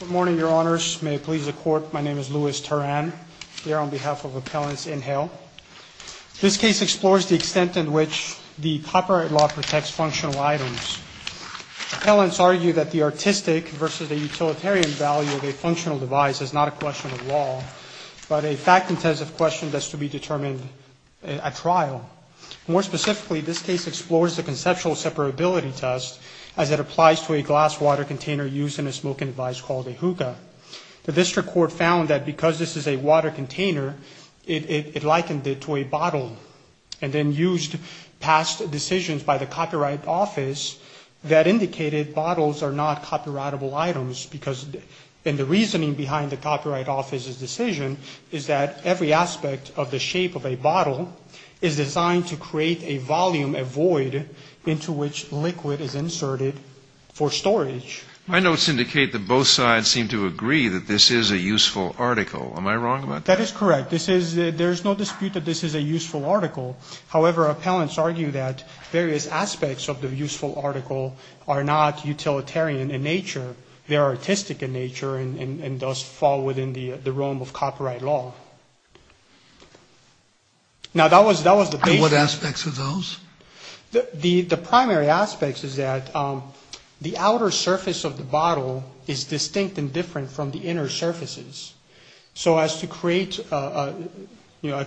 Good morning, Your Honors. May it please the Court, my name is Louis Turan, here on behalf of Appellants Inhale. This case explores the extent in which the copyright law protects functional items. Appellants argue that the artistic versus the utilitarian value of a functional device is not a question of law, but a fact-intensive question that is to be determined at trial. More specifically, this case explores the conceptual separability test as it applies to a glass water container used in a smoking device called a hookah. The District Court found that because this is a water container, it likened it to a bottle and then used past decisions by the Copyright Office that indicated bottles are not copyrightable items because the reasoning behind the Copyright Office's decision is that every aspect of the shape of a bottle is designed to create a volume, a void, into which liquid is inserted for storage. My notes indicate that both sides seem to agree that this is a useful article. Am I wrong about that? That is correct. There is no dispute that this is a useful article. However, Appellants argue that various aspects of the useful article are not utilitarian in nature. They are artistic in nature and thus fall within the realm of copyright law. Now that was the basis. What aspects of those? The primary aspects is that the outer surface of the bottle is distinct and different from the inner surfaces. So as to create a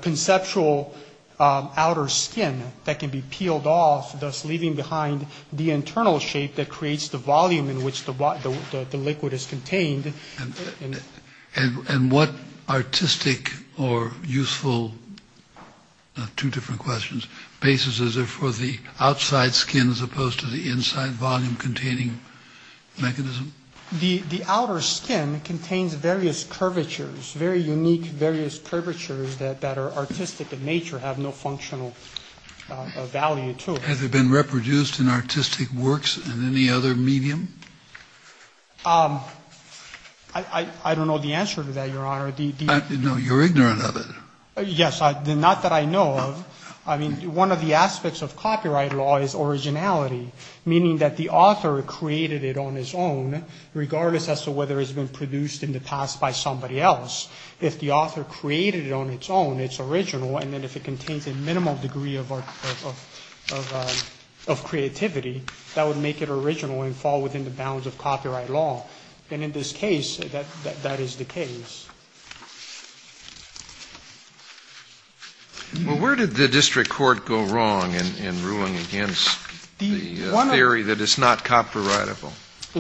conceptual outer skin that can be peeled off, thus leaving behind the internal shape that creates the volume in which the liquid is contained. And what artistic or useful, two different questions, basis is there for the outside skin as opposed to the inside volume containing mechanism? The outer skin contains various curvatures, very unique, various curvatures that are artistic in nature, have no functional value to it. Have they been reproduced in artistic works in any other medium? I don't know the answer to that, Your Honor. No, you're ignorant of it. Yes, not that I know of. I mean, one of the aspects of copyright law is originality, meaning that the author created it on his own, regardless as to whether it's been produced in the past by somebody else. If the author created it on its own, it's original, and then if it contains a minimum degree of creativity, that would make it original and fall within the bounds of copyright law. And in this case, that is the case. Where did the district court go wrong in ruling against the theory that it's not copyrightable?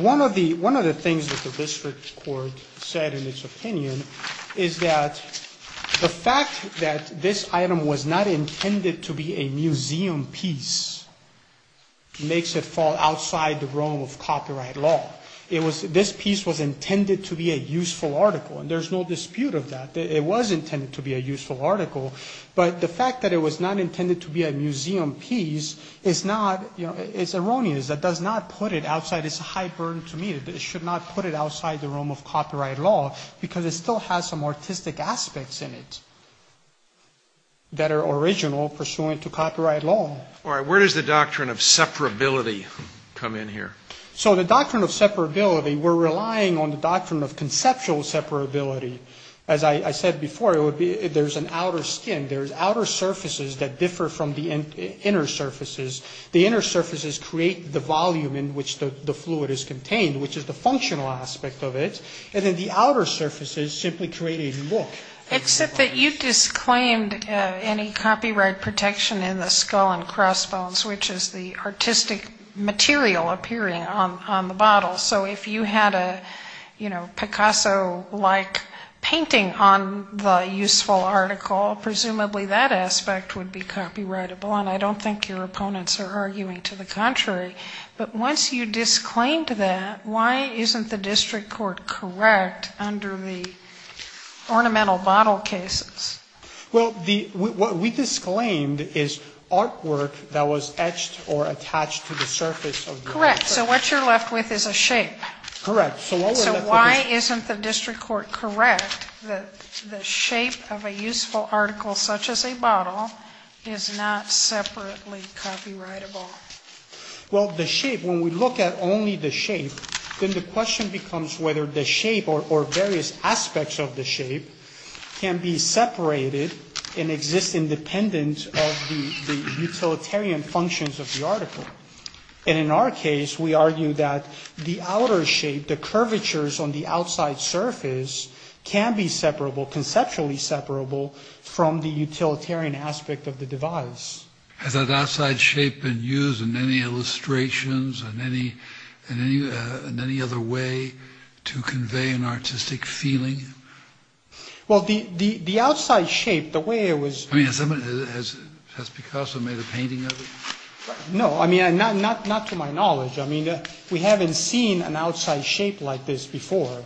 One of the things that the district court said in its opinion is that the fact that this item was not intended to be a museum piece makes it fall outside the realm of copyright law. This piece was intended to be a useful article, and there's no dispute of that. It was intended to be a useful article, but the fact that it was not intended to be a museum piece is not, you know, it's erroneous. That does not put it outside, it's a high burden to me that it should not put it outside the realm of copyright law, because it still has some artistic aspects in it that are original pursuant to copyright law. All right, where does the doctrine of separability come in here? So the doctrine of separability, we're relying on the doctrine of conceptual separability. As I said before, it would be, there's an outer skin, there's outer surfaces that differ from the inner surfaces. The inner surfaces create the volume in which the fluid is contained, which is the functional aspect of it, and then the outer surfaces simply create a look. Except that you disclaimed any copyright protection in the skull and crossbones, which is the artistic material appearing on the bottle. So if you had a, you know, Picasso-like painting on the useful article, presumably that aspect would be copyrightable, and I don't think your opponents are arguing to the contrary. But once you disclaimed that, why isn't the district court correct under the ornamental bottle cases? Well, the, what we disclaimed is artwork that was etched or attached to the surface of the object. Correct. So what you're left with is a shape. Correct. So what we're left with is a shape. So the shape of a useful article such as a bottle is not separately copyrightable. Well the shape, when we look at only the shape, then the question becomes whether the shape or various aspects of the shape can be separated and exist independent of the utilitarian functions of the article. And in our case, we argue that the outer shape, the curvatures on the outside surface, can be separable, conceptually separable, from the utilitarian aspect of the device. Has that outside shape been used in any illustrations, in any other way to convey an artistic feeling? Well the outside shape, the way it was... I mean, has Picasso made a painting of it? No, I mean, not to my knowledge. I mean, we haven't seen an outside shape like this before.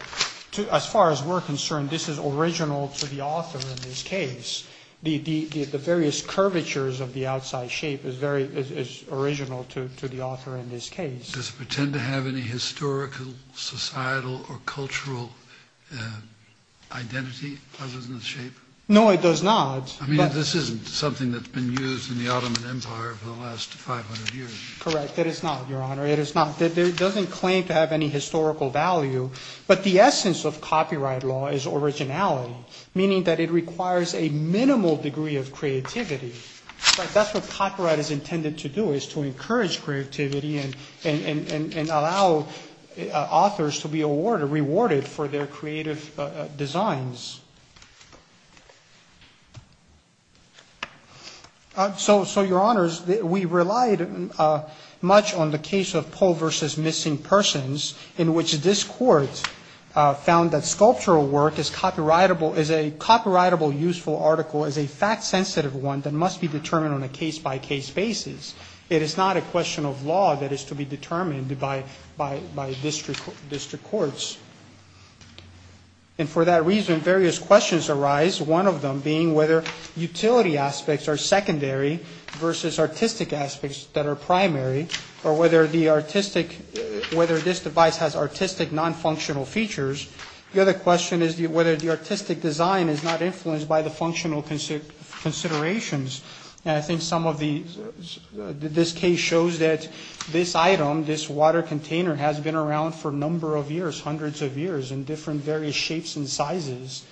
As far as we're concerned, this is original to the author in this case. The various curvatures of the outside shape is very, is original to the author in this case. Does it pretend to have any historical, societal, or cultural identity, other than the shape? No it does not. I mean, this isn't something that's been used in the Ottoman Empire for the last 500 years. Correct, it is not, Your Honor. It is not. It doesn't claim to have any historical value, but the essence of copyright law is originality, meaning that it requires a minimal degree of creativity. That's what copyright is intended to do, is to encourage creativity and allow authors to be awarded, rewarded for their creative designs. So Your Honors, we relied much on the case of Poe versus Missing Persons, in which this court found that sculptural work is copyrightable, is a copyrightable useful article, is a fact sensitive one that must be determined on a case-by-case basis. It is not a question of by district courts. And for that reason, various questions arise, one of them being whether utility aspects are secondary versus artistic aspects that are primary, or whether the artistic, whether this device has artistic, non-functional features. The other question is whether the artistic design is not influenced by the functional considerations. And I think some of the, this case shows that this item, this water container, has been around for a number of years, hundreds of years, in different various shapes and sizes.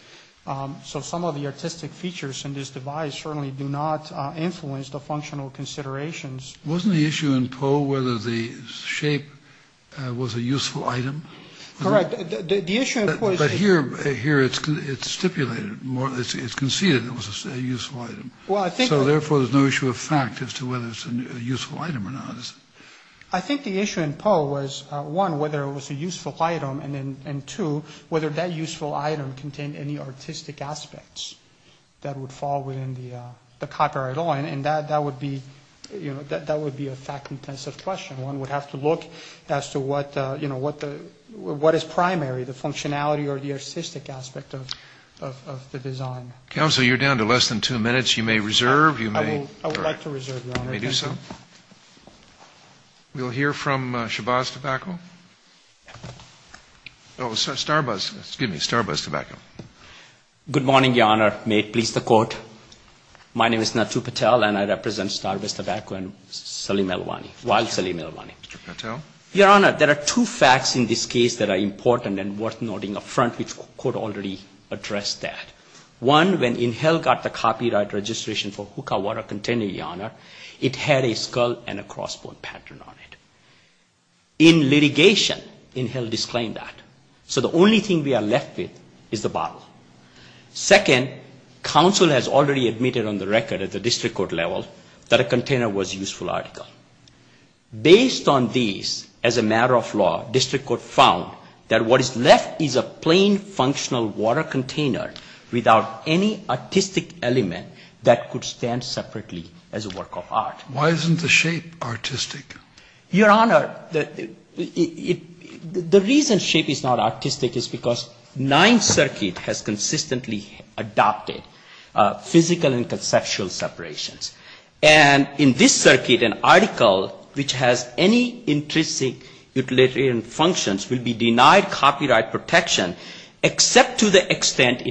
So some of the artistic features in this device certainly do not influence the functional considerations. Wasn't the issue in Poe whether the shape was a useful item? Correct. The issue in Poe is... But here, here it's stipulated, it's conceded it was a useful item. Well, I think... I think the issue in Poe was, one, whether it was a useful item, and then, and two, whether that useful item contained any artistic aspects that would fall within the copyright law. And that, that would be, you know, that would be a fact-intensive question. One would have to look as to what, you know, what the, what is primary, the functionality or the artistic aspect of, of, of the design. Counsel, you're down to less than two minutes. You may reserve, you may... I would like to reserve, Your Honor. You may do so. We'll hear from Shabazz Tobacco. Oh, Starbuzz, excuse me, Starbuzz Tobacco. Good morning, Your Honor. May it please the Court? My name is Natu Patel, and I represent Starbuzz Tobacco and Sully Melwani, while Sully Melwani. Mr. Patel? Your Honor, there are two facts in this case that are important and worth noting up front, which the Court already addressed that. One, when Inhel got the copyright registration for Hookah water container, Your Honor, it had a skull and a cross-bone pattern on it. In litigation, Inhel disclaimed that. So the only thing we are left with is the bottle. Second, counsel has already admitted on the record at the district court level that a container was a useful article. Based on these, as a matter of law, district court found that what is left is a plain, functional water container without any artistic element that could stand separately as a work of art. Why isn't the shape artistic? Your Honor, the reason shape is not artistic is because Ninth Circuit has consistently adopted physical and conceptual separations. And in this circuit, an article which has any intrinsic utilitarian functions will be denied copyright protection, except to the example,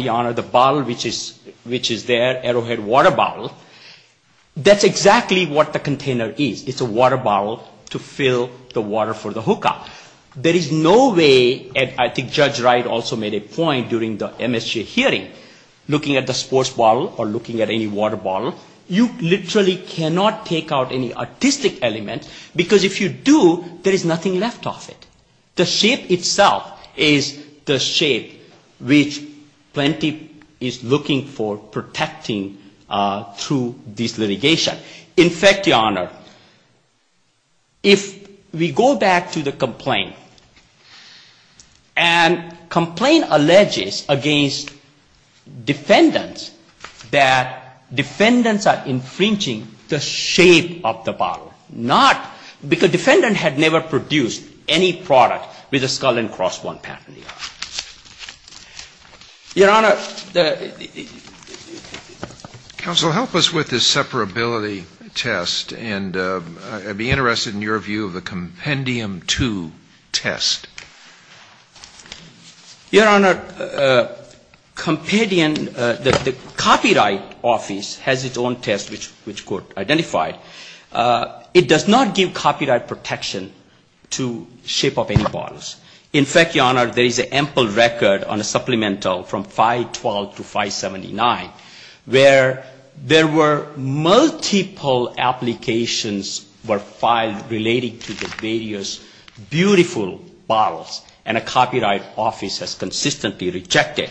Your Honor, the bottle which is there, Arrowhead water bottle, that's exactly what the container is. It's a water bottle to fill the water for the Hookah. There is no way, and I think Judge Wright also made a point during the MSGA hearing, looking at the sports bottle or looking at any water bottle, you literally cannot take out any artistic element, because if you do, there is nothing left of it. The shape itself is the shape which Plenty is looking for protecting through this litigation. In fact, Your Honor, if we go back to the complaint, and complaint alleges against defendants that defendants are infringing the shape of the bottle, not because defendant had never produced any product with a skull and cross-bond patent, Your Honor. Counsel, help us with this separability test, and I'd be interested in your view of a Compendium 2 test. Your Honor, Compendium, the Copyright Office has its own test which Court identified. It does not give copyright protection to shape of any bottles. In fact, Your Honor, there is an ample record on a supplemental from 512 to 579, where there were multiple applications were filed relating to the various beautiful bottles, and a Copyright Office has consistently rejected.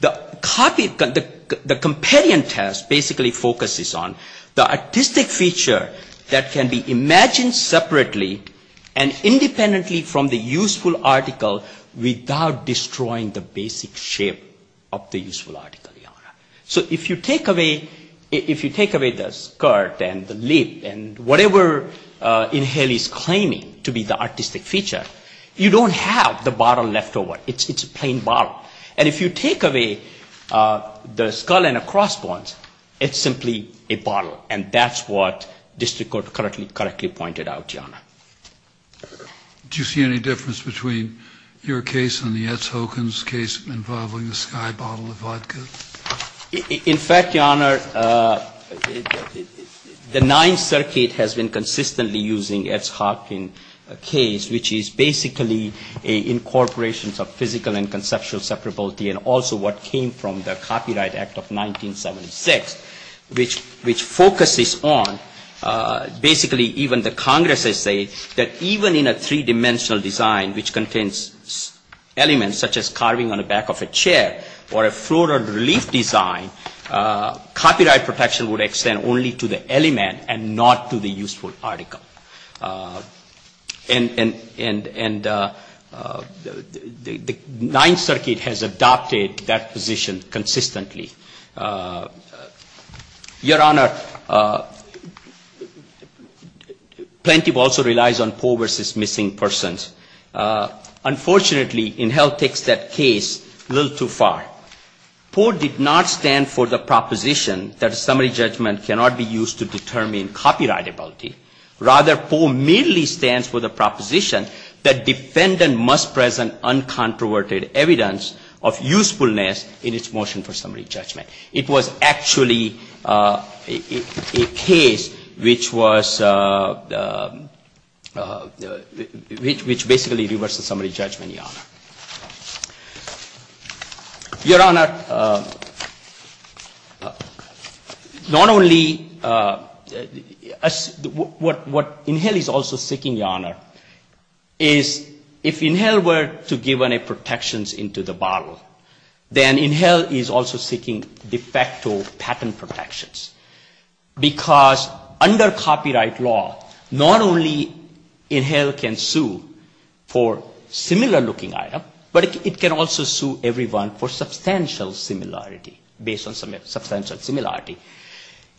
The Compendium test basically focuses on the artistic feature that can be imagined separately and independently from the useful article without destroying the basic shape of the useful article, Your Honor. So if you take away the skirt and the lip and whatever Inhalie is claiming to be the bottom, and if you take away the skull and the cross-bonds, it's simply a bottle, and that's what district court correctly pointed out, Your Honor. Do you see any difference between your case and the Etz Hockins case involving the sky bottle of vodka? In fact, Your Honor, the Ninth Circuit has been consistently using Etz Hockin case, which is basically a incorporation of physical and conceptual separability, and also what came from the Copyright Act of 1976, which focuses on basically even the Congresses say that even in a three-dimensional design which contains elements such as carving on the back of a chair or a floral relief design, copyright protection would extend only to the element and not to the useful article. And the Ninth Circuit has adopted that position consistently. Your Honor, plaintiff also relies on poor versus missing persons. Unfortunately Inhalie takes that case a little too far. Poor did not stand for the proposition that a summary judgment cannot be used to determine copyrightability, rather poor merely stands for the proposition that defendant must present uncontroverted evidence of usefulness in its motion for summary judgment. It was actually a case which was, which basically reverses summary judgment, Your Honor. Your Honor, not only, what Inhalie is also seeking, Your Honor, is if Inhalie were to give any protections into the bottle, then Inhalie is also seeking de facto patent protections because under copyright law, not only Inhalie can sue for similar looking items, but also it can sue everyone for substantial similarity, based on substantial similarity.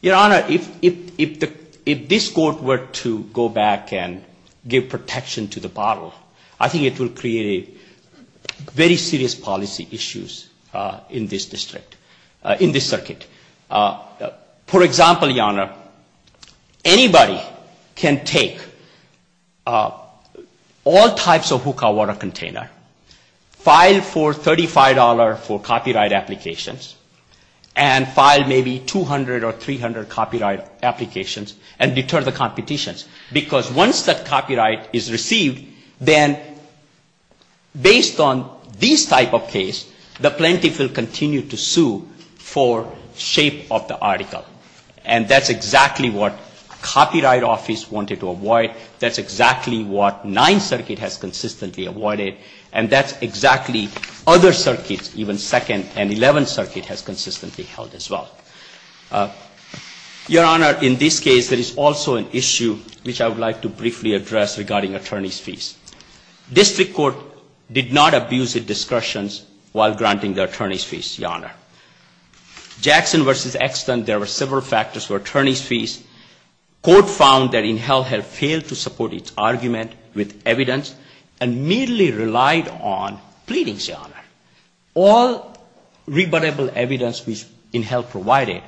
Your Honor, if this Court were to go back and give protection to the bottle, I think it will create a very serious policy issues in this district, in this circuit. For example, Your Honor, anybody can take all types of hookah water container and put it in a bottle, file for $35 for copyright applications, and file maybe 200 or 300 copyright applications and deter the competitions. Because once that copyright is received, then based on this type of case, the plaintiff will continue to sue for shape of the article. And that's exactly what Copyright Office wanted to avoid. That's exactly what Ninth Circuit has consistently avoided, and that's exactly other circuits, even Second and Eleventh Circuit has consistently held as well. Your Honor, in this case, there is also an issue which I would like to briefly address regarding attorney's fees. District Court did not abuse its discretion while granting the attorney's fees, Your Honor. Jackson v. Exton, there were several factors for attorney's fees. One, they repeatedly relied on pleadings, Your Honor. All rebuttable evidence which INHEL provided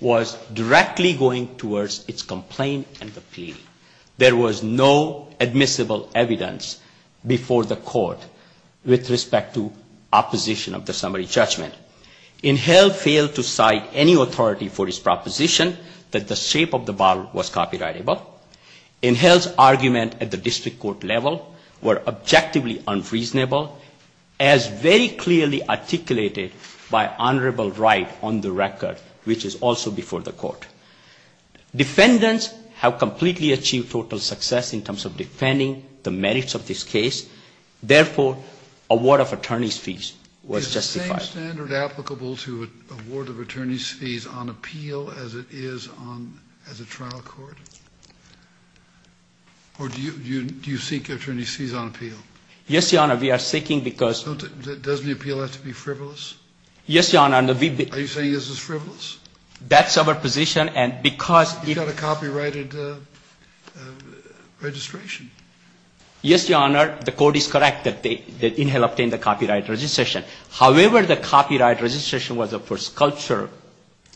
was directly going towards its complaint and the plea. There was no admissible evidence before the Court with respect to opposition of the summary judgment. INHEL failed to cite any authority for its proposition that the shape of the bottle was copyrightable. INHEL's argument at the District Court level were objectively unreasonable, as very clearly articulated by Honorable Wright on the record, which is also before the Court. Defendants have completely achieved total success in terms of defending the merits of this case. Therefore, award of attorney's fees was justified. Is the same standard applicable to award of attorney's fees on appeal as it is on, as it is on appeal? Or do you seek attorney's fees on appeal? Yes, Your Honor. We are seeking because Doesn't the appeal have to be frivolous? Yes, Your Honor. Are you saying this is frivolous? That's our position. And because You've got a copyrighted registration. Yes, Your Honor. The Court is correct that INHEL obtained the copyright registration. However, the copyright registration was for sculpture,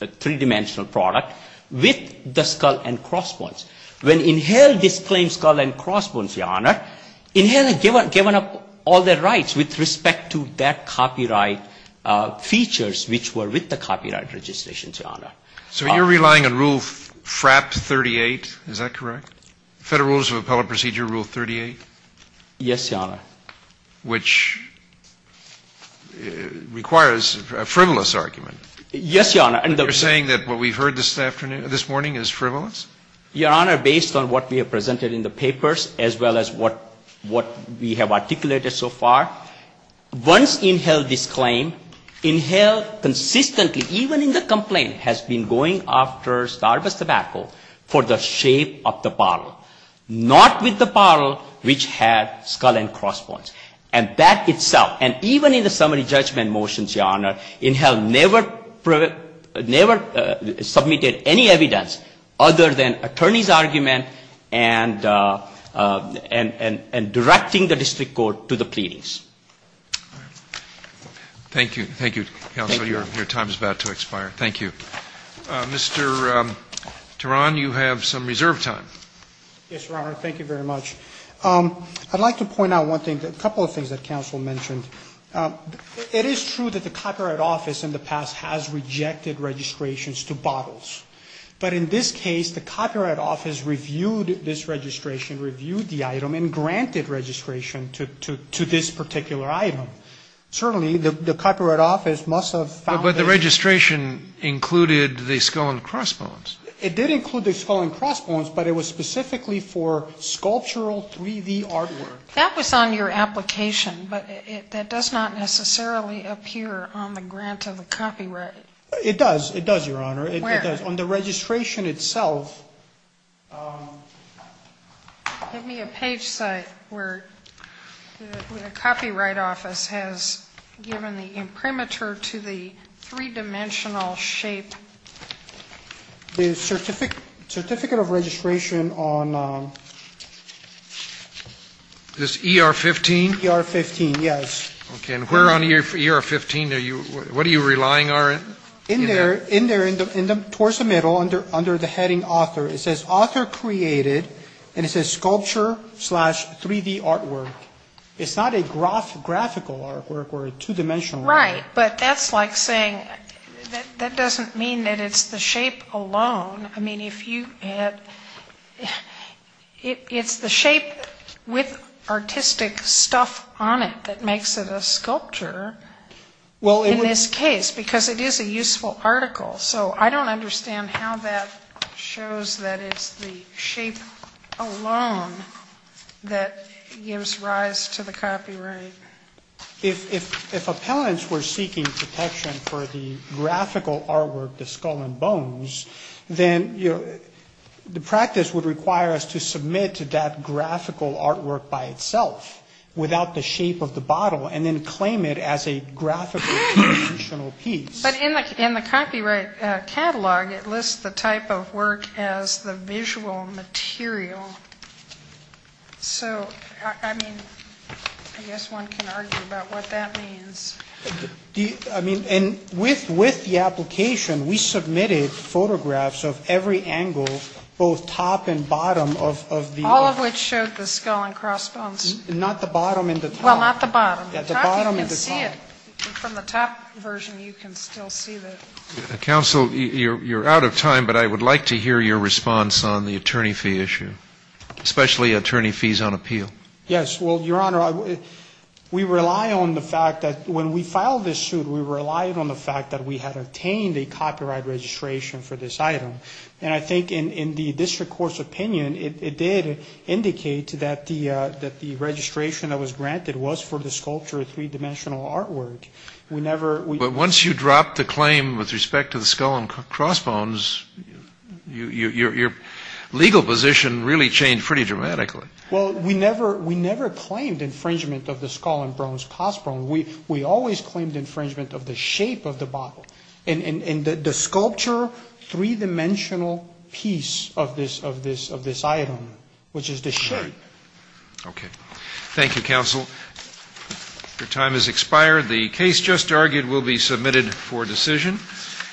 a three-dimensional product with the skull and crossbones. When INHEL disclaimed skull and crossbones, Your Honor, INHEL had given up all their rights with respect to that copyright features which were with the copyright registration, Your Honor. So you're relying on Rule FRAP 38, is that correct? Federal Rules of Appellate Procedure Rule 38? Yes, Your Honor. Which requires a frivolous argument. Yes, Your Honor. You're saying that what we've heard this morning is frivolous? Your Honor, based on what we have presented in the papers as well as what we have articulated so far, once INHEL disclaimed, INHEL consistently, even in the complaint, has been going after Starbucks tobacco for the shape of the bottle, not with the bottle which had skull and crossbones. And that itself, and even in the summary judgment motions, Your Honor, INHEL never submitted any evidence other than attorney's argument and directing the district court to the pleadings. Thank you. Thank you, counsel. Your time is about to expire. Thank you. Mr. Teran, you have some reserve time. Yes, Your Honor. Thank you very much. I'd like to point out one thing, a couple of things that counsel mentioned. It is true that the Copyright Office in the past has rejected registrations to bottles. But in this case, the Copyright Office reviewed this registration, reviewed the item and granted registration to this particular item. Certainly, the Copyright Office must have found that the registration included the skull and crossbones. It did include the skull and crossbones, but it was specifically for sculptural 3D artwork. That was on your application, but that does not necessarily appear on the grant of the copyright. It does. It does, Your Honor. Where? On the registration itself. Give me a page site where the Copyright Office has given the imprimatur to the three-dimensional shape. The Certificate of Registration on... This ER-15? ER-15, yes. Okay, and where on ER-15 are you, what are you relying on? In there, towards the middle, under the heading author. It says author created, and it says sculpture slash 3D artwork. It's not a graphical artwork or a two-dimensional artwork. Right, but that's like saying that doesn't mean that it's the shape alone. I mean, if you had, it's the shape with artistic stuff on it that makes it a sculpture in this case, because it is a useful article. So I don't understand how that shows that it's the shape alone that gives rise to the copyright. If appellants were seeking protection for the graphical artwork, the skull and bones, then the practice would require us to submit to that graphical artwork by itself without the shape of the bottle and then claim it as a graphical two-dimensional piece. But in the copyright catalog, it lists the type of work as the visual material. So, I mean, I guess one can argue about what that means. I mean, and with the application, we submitted photographs of every angle, both top and bottom of the. All of which showed the skull and crossbones. Not the bottom and the top. Well, not the bottom. The bottom and the top. You can see it. From the top version, you can still see the. Counsel, you're out of time, but I would like to hear your response on the fees on appeal. Yes. Well, Your Honor, we rely on the fact that when we filed this suit, we relied on the fact that we had obtained a copyright registration for this item. And I think in the district court's opinion, it did indicate that the registration that was granted was for the sculpture of three-dimensional artwork. But once you drop the claim with respect to the skull and crossbones, your legal position really changed pretty dramatically. Well, we never claimed infringement of the skull and crossbones. We always claimed infringement of the shape of the bottle. And the sculpture, three-dimensional piece of this item, which is the shape. Okay. Thank you, Counsel. Your time has expired. The case just argued will be submitted for decision.